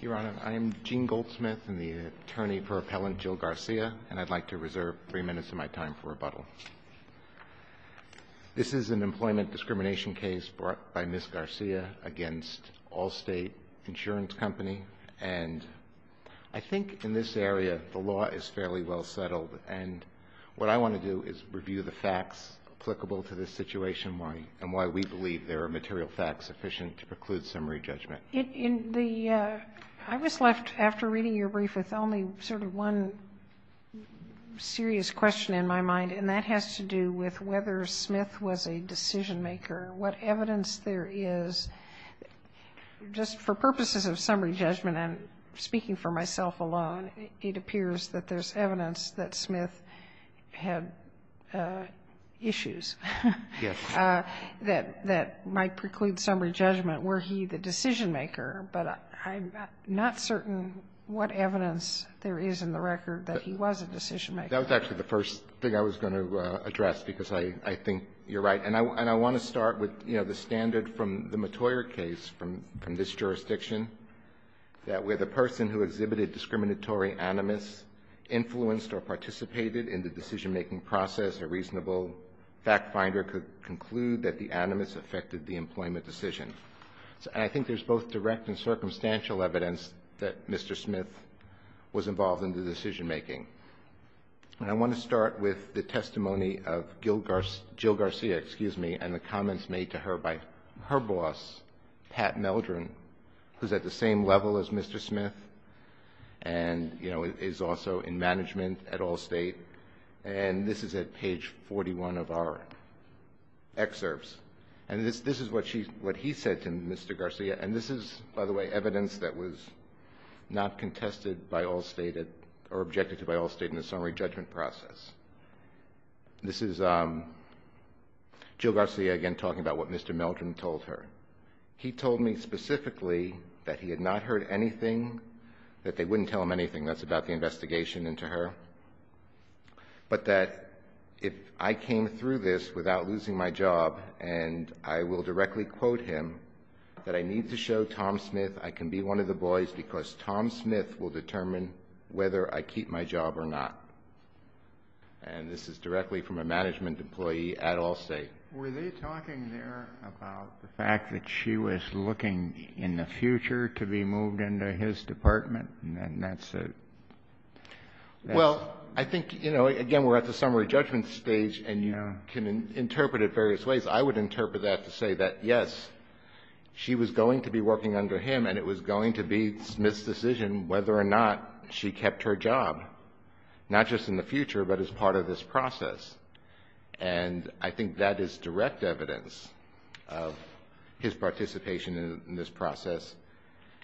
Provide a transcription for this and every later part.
Your Honor, I am Gene Goldsmith, the attorney for Appellant Jill Garcia, and I'd like to reserve three minutes of my time for rebuttal. This is an employment discrimination case brought by Ms. Garcia against Allstate Insurance Company, and I think in this area the law is fairly well settled, and what I want to do is review the facts applicable to this situation and why we believe there are material facts sufficient to preclude summary judgment. In the, I was left after reading your brief with only sort of one serious question in my mind, and that has to do with whether Smith was a decision maker, what evidence there is. Just for purposes of summary judgment, I'm speaking for myself alone, it appears that there's evidence that Smith had issues that might preclude summary judgment. Were he the decision maker, but I'm not certain what evidence there is in the record that he was a decision maker. That was actually the first thing I was going to address, because I think you're right. And I want to start with, you know, the standard from the Mottoyer case from this jurisdiction, that where the person who exhibited discriminatory animus influenced or participated in the decision-making process, a reasonable fact finder could conclude that the animus affected the employment decision. And I think there's both direct and circumstantial evidence that Mr. Smith was involved in the decision-making. And I want to start with the testimony of Jill Garcia, excuse me, and the comments made to her by her boss, Pat Meldrum, who's at the same level as Mr. Smith and, you know, is also in management at Allstate. And this is at page 41 of our excerpts. And this is what she, what he said to Mr. Garcia. And this is, by the way, evidence that was not contested by Allstate or objected to by Allstate in the summary judgment process. This is Jill Garcia again talking about what Mr. Meldrum told her. He told me specifically that he had not heard anything, that they wouldn't tell him anything. That's about the investigation into her. But that if I came through this without losing my job and I will directly quote him, that I need to show Tom Smith I can be one of the boys because Tom Smith will determine whether I keep my job or not. And this is directly from a management employee at Allstate. Were they talking there about the fact that she was looking in the future to be moved into his department and then that's it? Well, I think, you know, again, we're at the summary judgment stage and you can interpret it various ways. I would interpret that to say that, yes, she was going to be working under him and it was going to be Smith's decision whether or not she kept her job, not just in the future, but as part of this process. And I think that is direct evidence of his participation in this process.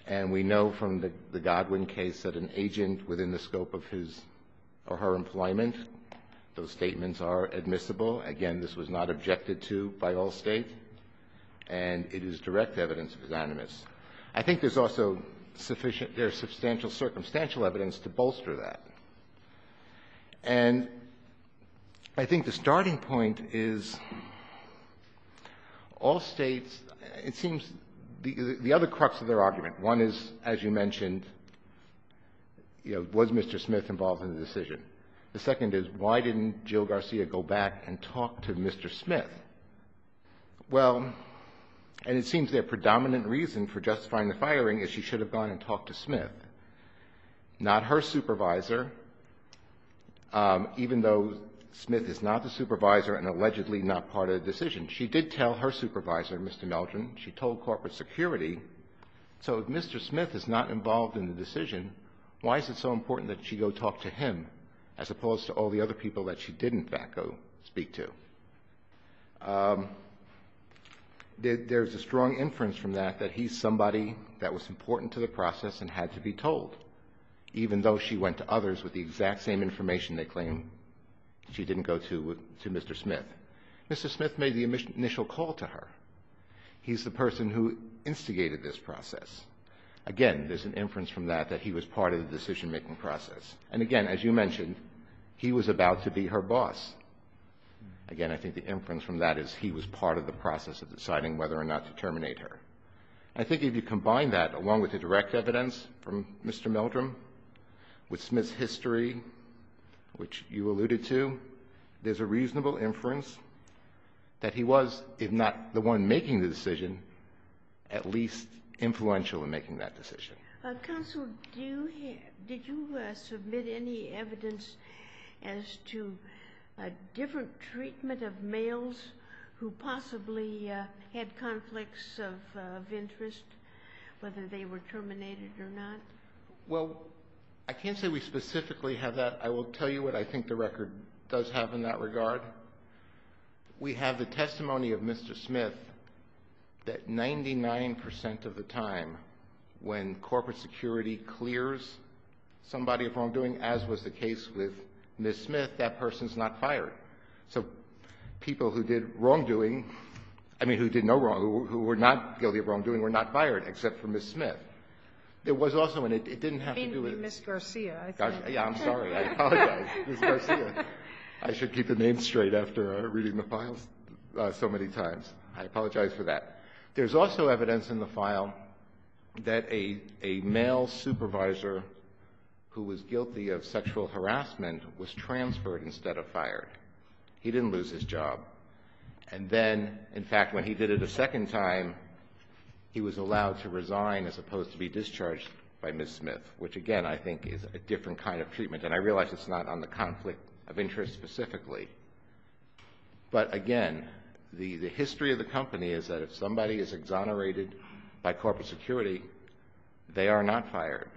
And we know from the Godwin case that an agent within the scope of his or her employment, those statements are admissible. Again, this was not objected to by Allstate and it is direct evidence of his animus. I think there's also sufficient – there's substantial circumstantial evidence to bolster that. And I think the starting point is Allstate's – it seems the other crux of their argument, one is, as you mentioned, you know, was Mr. Smith involved in the decision? The second is, why didn't Jill Garcia go back and talk to Mr. Smith? Well, and it seems for justifying the firing is she should have gone and talked to Smith, not her supervisor, even though Smith is not the supervisor and allegedly not part of the decision. She did tell her supervisor, Mr. Meldrum, she told corporate security. So if Mr. Smith is not involved in the decision, why is it so important that she go talk to him as opposed to all the other people that she did in fact go speak to? There's a strong inference from that that he's somebody that was important to the process and had to be told, even though she went to others with the exact same information they claim she didn't go to with – to Mr. Smith. Mr. Smith made the initial call to her. He's the person who instigated this process. Again, there's an inference from that that he was part of the decision-making process. And again, as you mentioned, he was about to be her boss. Again, I think the inference from that is he was part of the process of deciding whether or not to terminate her. I think if you combine that along with the direct evidence from Mr. Meldrum, with Smith's history, which you alluded to, there's a reasonable inference that he was, if not the one making the decision, at least influential in making that decision. Counsel, did you submit any evidence as to a different treatment of males who possibly had conflicts of interest, whether they were terminated or not? Well, I can't say we specifically have that. I will tell you what I think the record does have in that regard. We have the testimony of Mr. Smith that 99% of the time when corporate security clears somebody of wrongdoing, as was the case with Ms. Smith, that person's not fired. So people who did wrongdoing – I mean, who did no wrong, who were not guilty of wrongdoing, were not fired except for Ms. Smith. There was also – and it didn't have to do with – You mean Ms. Garcia, I think. Yeah, I'm sorry. I apologize. Ms. Garcia. I should keep the name straight after reading the files so many times. I apologize for that. There's also evidence in the file that a male supervisor who was guilty of sexual harassment was transferred instead of fired. He didn't lose his job. And then, in fact, when he did it a second time, he was allowed to resign as opposed to be discharged by Ms. Smith, which, again, I think is a different kind of treatment. And I realize it's not on the conflict of interest specifically. But, again, the history of the company is that if somebody is exonerated by corporate security, they are not fired.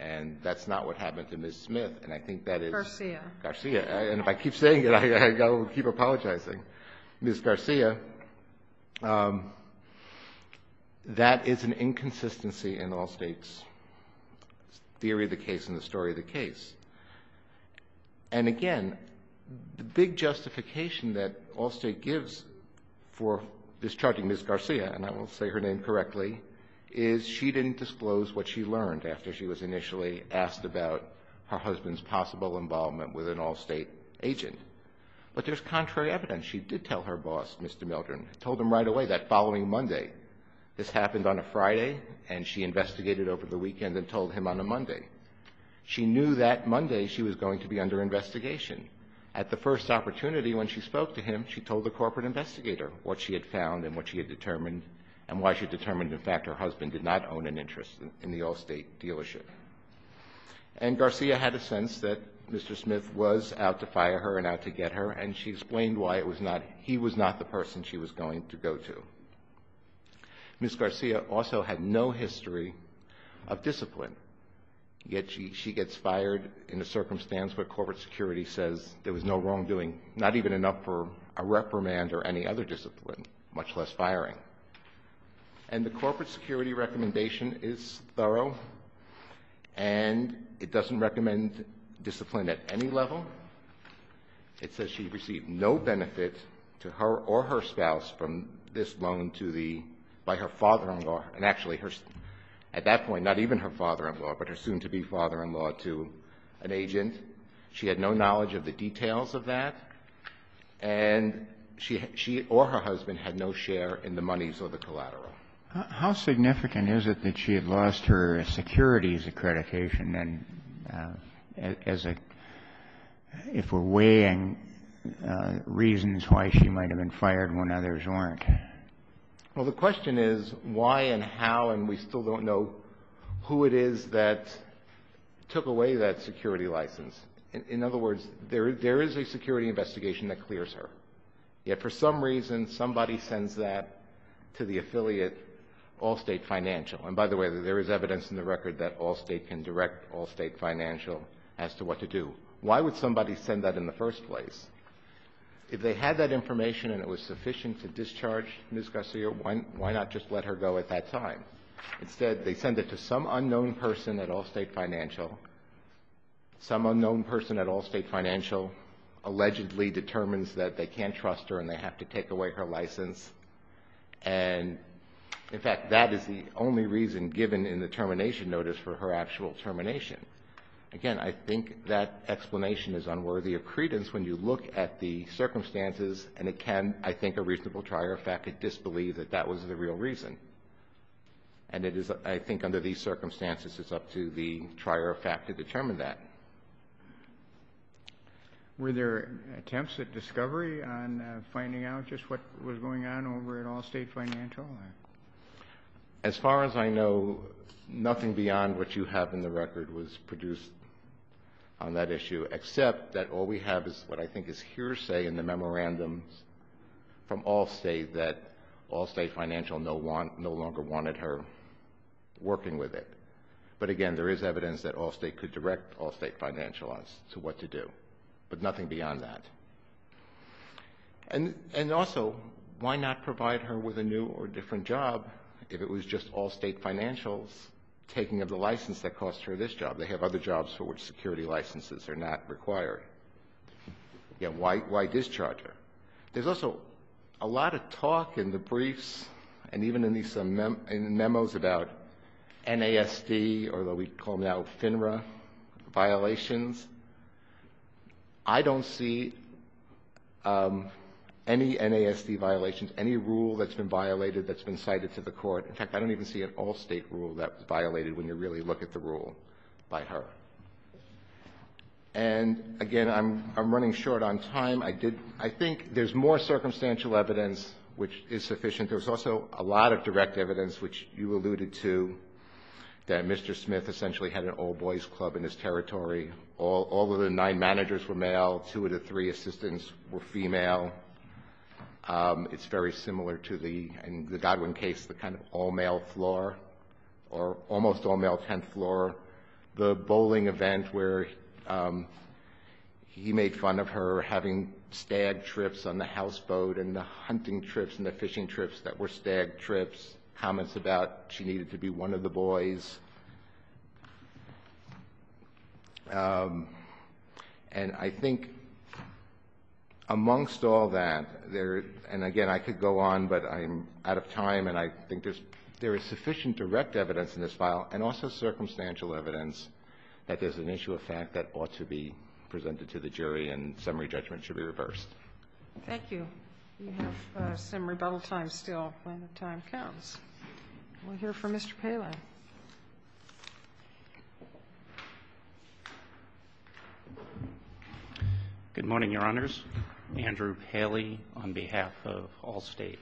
And that's not what happened to Ms. Smith. And I think that is – Garcia. Garcia. And if I keep saying it, I will keep apologizing. Ms. Garcia. That is an inconsistency in Allstate's theory of the case and the story of the case. And, again, the big justification that Allstate gives for discharging Ms. Garcia – and I will say her name correctly – is she didn't disclose what she learned after she was initially asked about her husband's possible involvement with an Allstate agent. But there's contrary evidence. She did tell her boss, Mr. Mildred, told him right away that following Monday – this happened on a Friday and she investigated over the weekend and told him on a Monday – she knew that Monday she was going to be under investigation. At the first opportunity when she spoke to him, she told the corporate investigator what she had found and what she had determined and why she determined, in fact, her husband did not own an interest in the Allstate dealership. And Garcia had a sense that Mr. Smith was out to fire her and out to get her, and she explained why it was not – he was not the person she was going to go to. Ms. Garcia also had no history of discipline, yet she gets fired in a circumstance where corporate security says there was no wrongdoing, not even enough for a reprimand or any other discipline, much less firing. And the corporate security recommendation is thorough, and it doesn't recommend discipline at any level. It says she received no benefit to her or her spouse from this loan to the – by her father-in-law – and actually her – at that point, not even her father-in-law, but her soon-to-be father-in-law to an agent. She had no knowledge of the details of that, and she or her husband had no share in the monies or the collateral. How significant is it that she had lost her securities accreditation, and as a – if we're weighing reasons why she might have been fired when others weren't? Well, the question is why and how, and we still don't know who it is that took away that security license. In other words, there is a security investigation that clears her, yet for some reason somebody sends that to the affiliate Allstate Financial. And by the way, there is evidence in the record that Allstate can direct Allstate Financial as to what to do. Why would somebody send that in the first place? If they had that information and it was sufficient to discharge Ms. Garcia, why not just let her go at that time? Instead, they send it to some unknown person at Allstate Financial. Some unknown person at Allstate Financial allegedly determines that they can't trust her and they have to take away her license. And in fact, that is the only reason given in the termination notice for her actual termination. Again, I think that explanation is unworthy of credence when you look at the circumstances and it can, I think, a reasonable trier of fact to disbelieve that that was the real reason. And it is, I think, under these circumstances, it's up to the trier of fact to determine that. Were there attempts at discovery on finding out just what was going on over at Allstate Financial? As far as I know, nothing beyond what you have in the record was produced on that issue, except that all we have is what I think is hearsay in the memorandums from Allstate that Allstate Financial no longer wanted her working with it. But again, there is evidence that Allstate could direct Allstate Financial on to what to do, but nothing beyond that. And also, why not provide her with a new or different job if it was just Allstate Financial's taking of the license that cost her this job? They have other jobs for which security licenses are not required. Again, why discharge her? There's also a lot of talk in the briefs and even in these memos about NASD or what we call now FINRA violations. I don't see any NASD violations, any rule that's been violated that's been cited to the court. In fact, I don't even see an Allstate rule that was violated when you really look at the rule by her. And again, I'm running short on time. I think there's more circumstantial evidence which is sufficient. There's also a lot of direct evidence, which you alluded to, that Mr. Smith essentially had an all-boys club in his territory. All of the nine managers were male. Two of the three assistants were female. It's very similar to the Godwin case, the kind of all-male floor or almost all-male 10th floor, the bowling event where he made fun of her having stag trips on the houseboat and the hunting trips and the fishing trips that were stag trips, comments about she needed to be one of the boys. And I think amongst all that, and again, I could go on, but I'm think there is sufficient direct evidence in this file and also circumstantial evidence that there's an issue of fact that ought to be presented to the jury and summary judgment should be reversed. Thank you. We have some rebuttal time still when the time counts. We'll hear from Mr. Paley. Good morning, Your Honors. Andrew Paley on behalf of Allstate.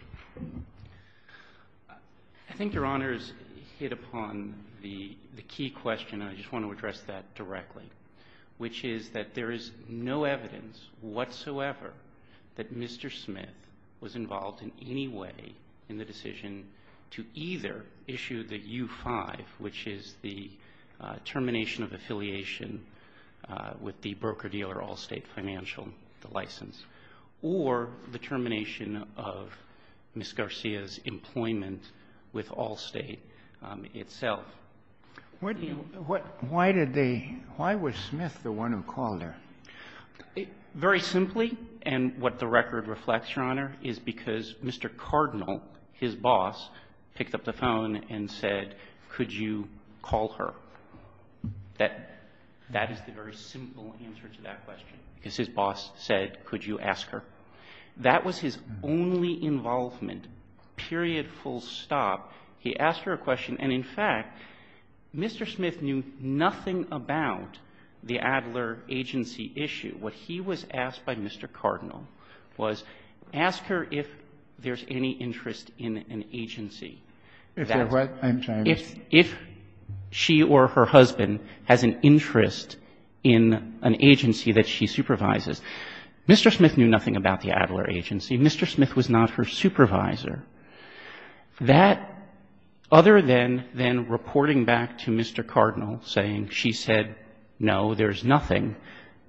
I think Your Honors hit upon the key question, and I just want to address that directly, which is that there is no evidence whatsoever that Mr. Smith was involved in any way in the decision to either issue the U-5, which is the termination of affiliation with the broker-dealer Allstate Financial, the license, or the termination of Ms. Garcia's employment with Allstate itself. Why was Smith the one who called her? Very simply, and what the record reflects, Your Honor, is because Mr. Cardinal, his boss, picked up the phone and said, could you call her. That is the very simple answer to that question, because his boss said, could you ask her. That was his only involvement, period, full stop. He asked her a question. And, in fact, Mr. Smith knew nothing about the Adler agency issue. And what he was asked by Mr. Cardinal was, ask her if there's any interest in an agency. If there was, I'm sorry. If she or her husband has an interest in an agency that she supervises. Mr. Smith knew nothing about the Adler agency. Mr. Smith was not her supervisor. That, other than reporting back to Mr. Cardinal saying she said, no, there's nothing,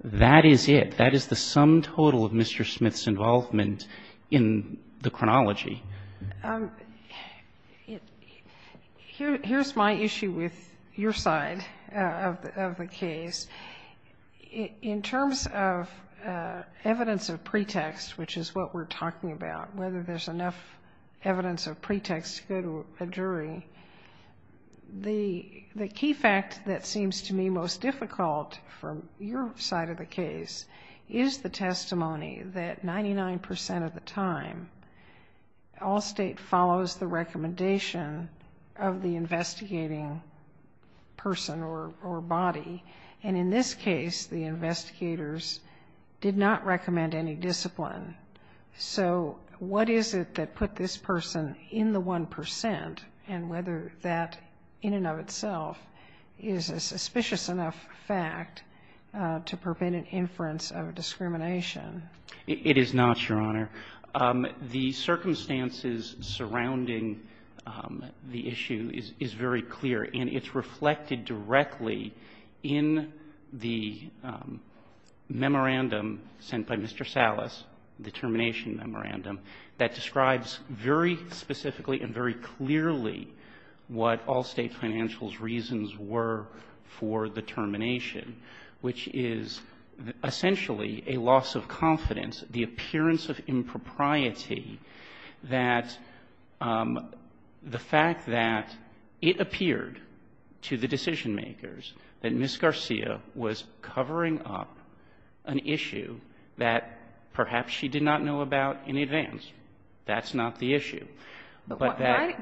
that is it. That is the sum total of Mr. Smith's involvement in the chronology. Here's my issue with your side of the case. In terms of evidence of pretext, which is what we're talking about, whether there's enough evidence of your side of the case, is the testimony that 99% of the time, Allstate follows the recommendation of the investigating person or body. And in this case, the investigators did not recommend any discipline. So what is it that put this person in the 1% and whether that, in and of itself, is a suspicious enough fact to prevent an inference of discrimination? It is not, Your Honor. The circumstances surrounding the issue is very clear. And it's reflected directly in the memorandum sent by Mr. Salas, the termination memorandum, that describes very specifically and very clearly what Allstate Financial's reasons were for the termination, which is essentially a loss of confidence, the appearance of impropriety that the fact that it appeared to the decision-makers that Ms. Garcia was covering up an issue that perhaps she did not know about in advance. That's not the issue. But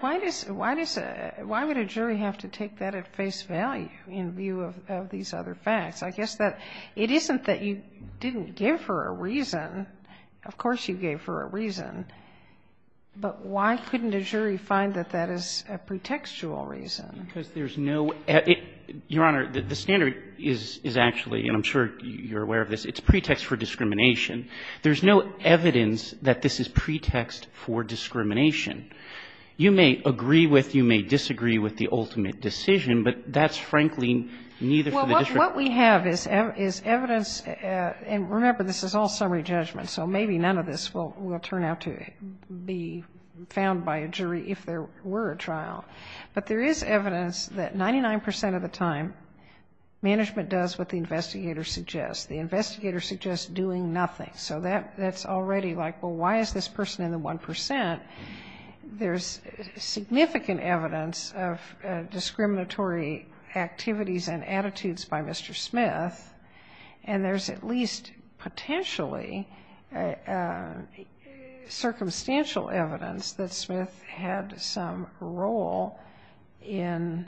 why does a jury have to take that at face value in view of these other facts? I guess that it isn't that you didn't give her a reason. Of course you gave her a reason. But why couldn't a jury find that that is a pretextual reason? Because there's no ---- Your Honor, the standard is actually, and I'm sure you're aware of this, it's pretext for discrimination. There's no evidence that this is pretext for discrimination. You may agree with, you may disagree with the ultimate decision, but that's frankly neither for the district. Well, what we have is evidence, and remember, this is all summary judgment, so maybe none of this will turn out to be found by a jury if there were a trial. But there is evidence that 99 percent of the time management does what the investigator suggests. The investigator suggests doing nothing. So that's already like, well, why is this person in the 1 percent? There's significant evidence of discriminatory activities and attitudes by Mr. Smith, and there's at least potentially circumstantial evidence that Smith had some role in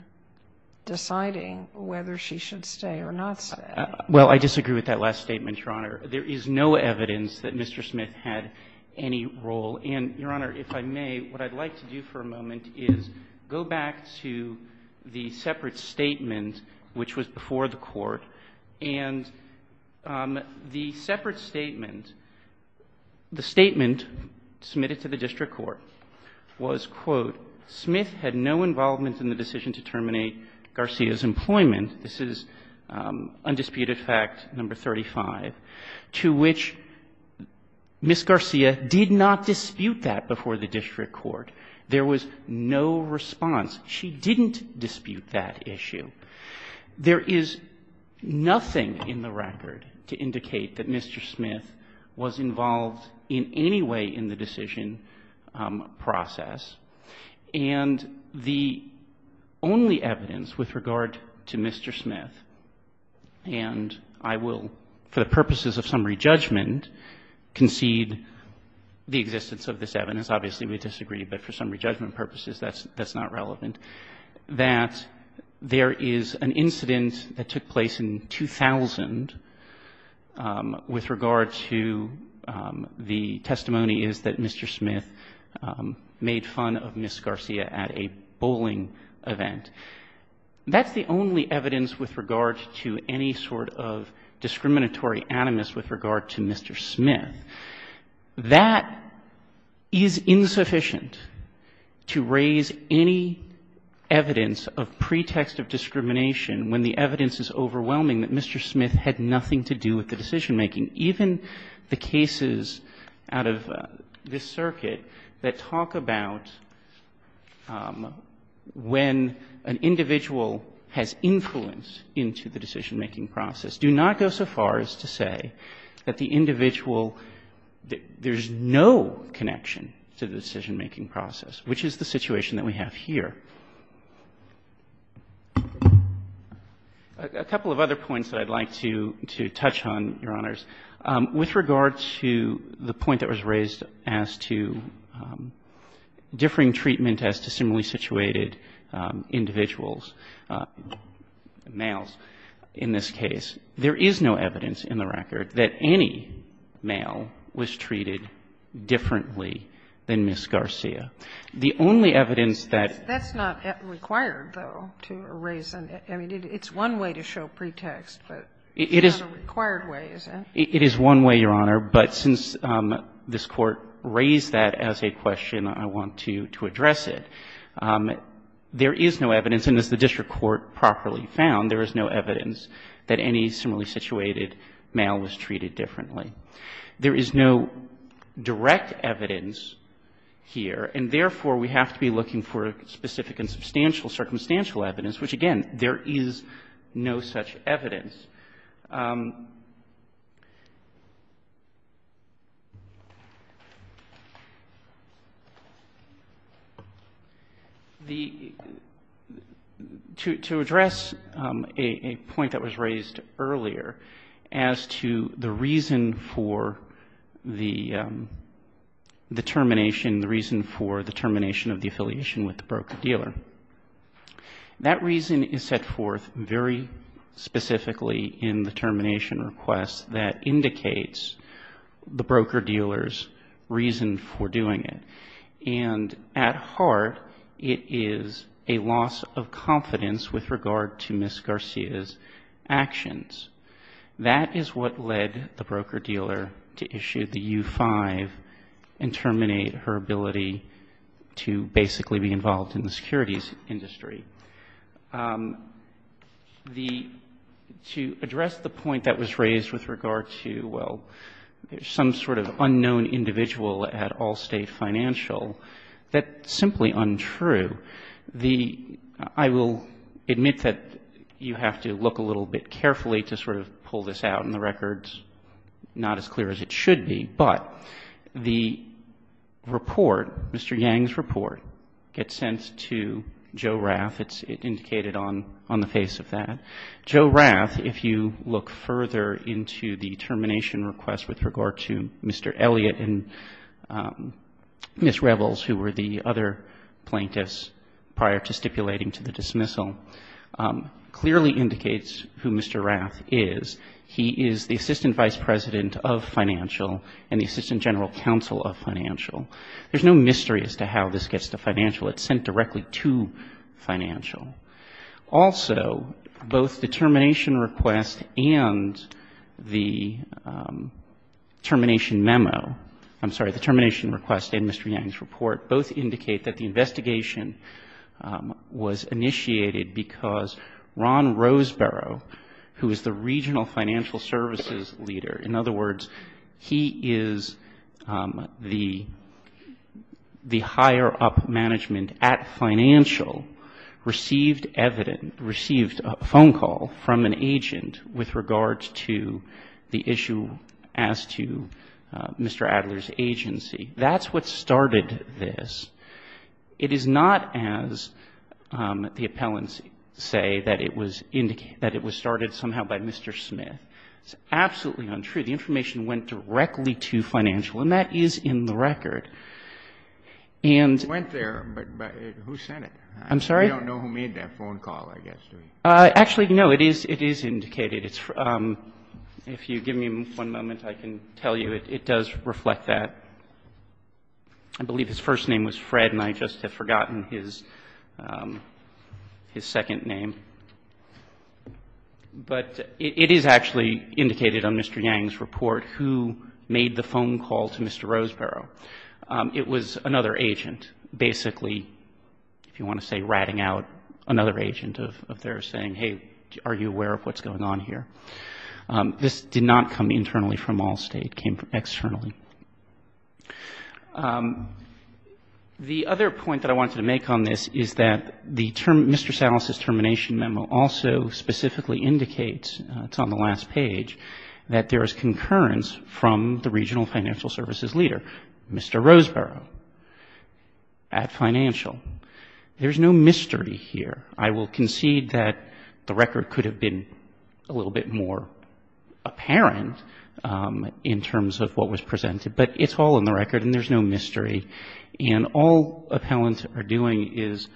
deciding whether she should stay or not stay. Well, I disagree with that last statement, Your Honor. There is no evidence that Mr. Smith had any role. And, Your Honor, if I may, what I'd like to do for a moment is go back to the separate statement, which was before the Court, and the separate statement, the statement submitted to the district court was, quote, Smith had no involvement in the decision to terminate Garcia's employment. This is undisputed fact number 35, to which Ms. Garcia did not dispute that before the district court. There was no response. She didn't dispute that issue. There is nothing in the record to indicate that Mr. Smith was involved in any way in the decision process. And the only evidence with regard to Mr. Smith, and I will, for the purposes of summary judgment, concede the existence of this evidence. Obviously, we disagree, but for summary judgment purposes, that's not relevant. That there is an incident that took place in 2000 with regard to the testimony is that Mr. Smith made fun of Ms. Garcia at a bowling event. That's the only evidence with regard to any sort of discriminatory animus with regard to Mr. Smith. That is insufficient to raise any evidence of pretext of discrimination when the evidence is overwhelming that Mr. Smith had nothing to do with the decision making. And even the cases out of this circuit that talk about when an individual has influence into the decision making process do not go so far as to say that the individual, there is no connection to the decision making process, which is the situation that we have here. A couple of other points that I'd like to touch on, Your Honors. With regard to the point that was raised as to differing treatment as to similarly situated individuals, males in this case, there is no evidence in the record that any male was treated differently than Ms. Garcia. The only evidence that ---- That's not required, though, to raise. I mean, it's one way to show pretext, but it's not a required way, is it? It is one way, Your Honor. But since this Court raised that as a question, I want to address it. There is no evidence, and as the district court properly found, there is no evidence that any similarly situated male was treated differently. There is no direct evidence here, and therefore, we have to be looking for specific and substantial circumstantial evidence, which, again, there is no such evidence. To address a point that was raised earlier as to the reason for the termination, the reason for the termination of the affiliation with the broker-dealer, that reason is set forth very specifically in the termination request that indicates the broker-dealer's reason for doing it, and at heart, it is a loss of confidence with regard to Ms. Garcia's actions. That is what led the broker-dealer to issue the U-5 and terminate her ability to basically be in the securities industry. To address the point that was raised with regard to, well, some sort of unknown individual at Allstate Financial, that's simply untrue. I will admit that you have to look a little bit carefully to sort of pull this out. And the record's not as clear as it should be. But the report, Mr. Yang's report, gets sent to Joe Rath. It's indicated on the face of that. Joe Rath, if you look further into the termination request with regard to Mr. Elliott and Ms. Revels, who were the other plaintiffs prior to stipulating to the dismissal, clearly indicates who Mr. Rath is. He is the assistant vice president of financial and the assistant general counsel of financial. There's no mystery as to how this gets to financial. It's sent directly to financial. Also, both the termination request and the termination memo, I'm sorry, the termination request and Mr. Yang's report both indicate that the investigation was initiated because Ron Roseborough, who is the regional financial services leader, in other words, he is the higher-up management at financial, received evidence, received a phone call from an agent with regard to the issue as to Mr. Adler's agency. That's what started this. It is not as the appellants say that it was indicated, that it was started somehow by Mr. Smith. It's absolutely untrue. The information went directly to financial, and that is in the record. And so we don't know who made that phone call, I guess. Actually, no, it is indicated. If you give me one moment, I can tell you it does reflect that. I believe his first name was Fred, and I just have forgotten his second name. But it is actually indicated on Mr. Yang's report who made the phone call to Mr. Roseborough. It was another agent, basically, if you want to say ratting out another agent of theirs saying, hey, are you aware of what's going on here? This did not come internally from Allstate, it came externally. The other point that I wanted to make on this is that Mr. Salas' termination memo also specifically indicates, it's on the last page, that there is concurrence from the regional financial services leader, Mr. Roseborough, at financial. There's no mystery here. I will concede that the record could have been a little bit more apparent in terms of what was presented, but it's all in the record and there's no mystery. And all appellants are doing is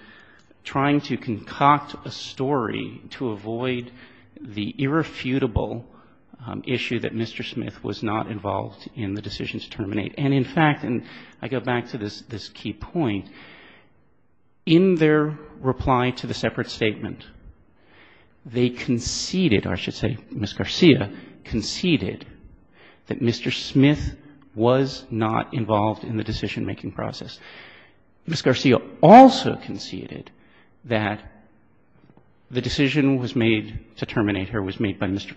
trying to concoct a story to avoid the irrefutable issue that Mr. Smith was not involved in the decision to terminate. And, in fact, I go back to this key point. In their reply to the separate statement, they conceded, or I should say Ms. Garcia conceded, that Mr. Smith was not involved in the decision-making process. Ms. Garcia also conceded that the decision was made to terminate her was made by Mr.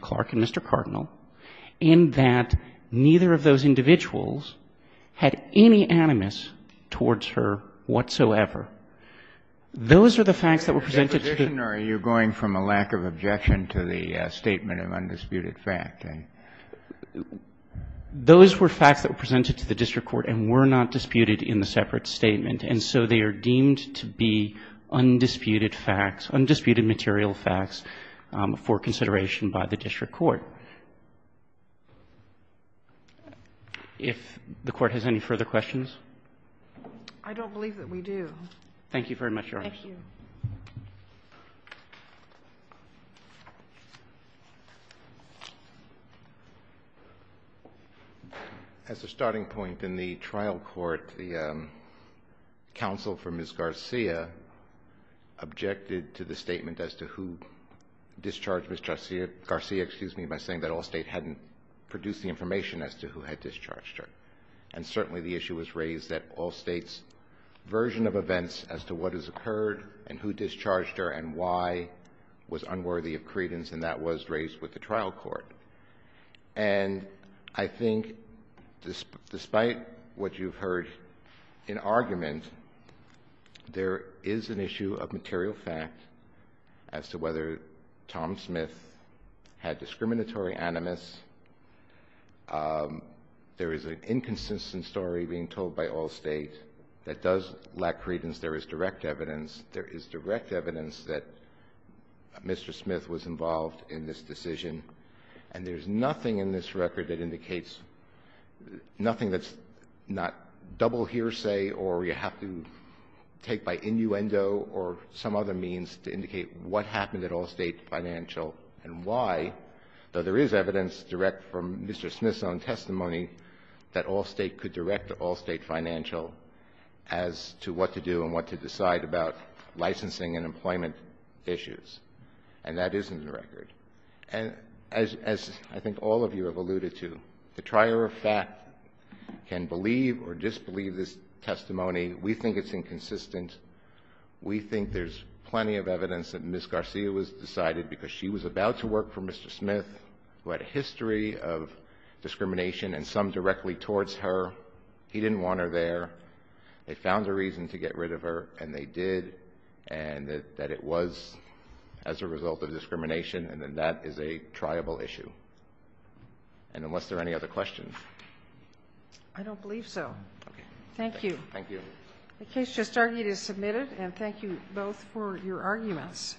Smith, had any animus towards her whatsoever. Those are the facts that were presented to the district court. Kennedy, are you going from a lack of objection to the statement of undisputed fact? Those were facts that were presented to the district court and were not disputed in the separate statement, and so they are deemed to be undisputed facts, undisputed material facts for consideration by the district court. If the Court has any further questions? I don't believe that we do. Thank you very much, Your Honors. Thank you. As a starting point, in the trial court, the counsel for Ms. Garcia objected to the statement saying that Allstate hadn't produced the information as to who had discharged her, and certainly the issue was raised that Allstate's version of events as to what has occurred and who discharged her and why was unworthy of credence, and that was raised with the trial court, and I think despite what you've heard in argument, there is an inconsistent story being told by Allstate that does lack credence. There is direct evidence. There is direct evidence that Mr. Smith was involved in this decision, and there is nothing in this record that indicates, nothing that's not double hearsay or you have to take by innuendo or some other means to indicate what happened at Allstate Financial and why, though there is evidence direct from Mr. Smith's own testimony that Allstate could direct Allstate Financial as to what to do and what to decide about licensing and employment issues, and that is in the record. And as I think all of you have alluded to, the trier of fact can believe or disbelieve this testimony. We think it's inconsistent. We think there's plenty of evidence that Ms. Garcia was decided because she was about to work for Mr. Smith, who had a history of discrimination and some directly towards her. He didn't want her there. They found a reason to get rid of her, and they did, and that it was as a result of discrimination, and that is a triable issue. And unless there are any other questions. I don't believe so. Thank you. Thank you. The case just argued is submitted, and thank you both for your arguments.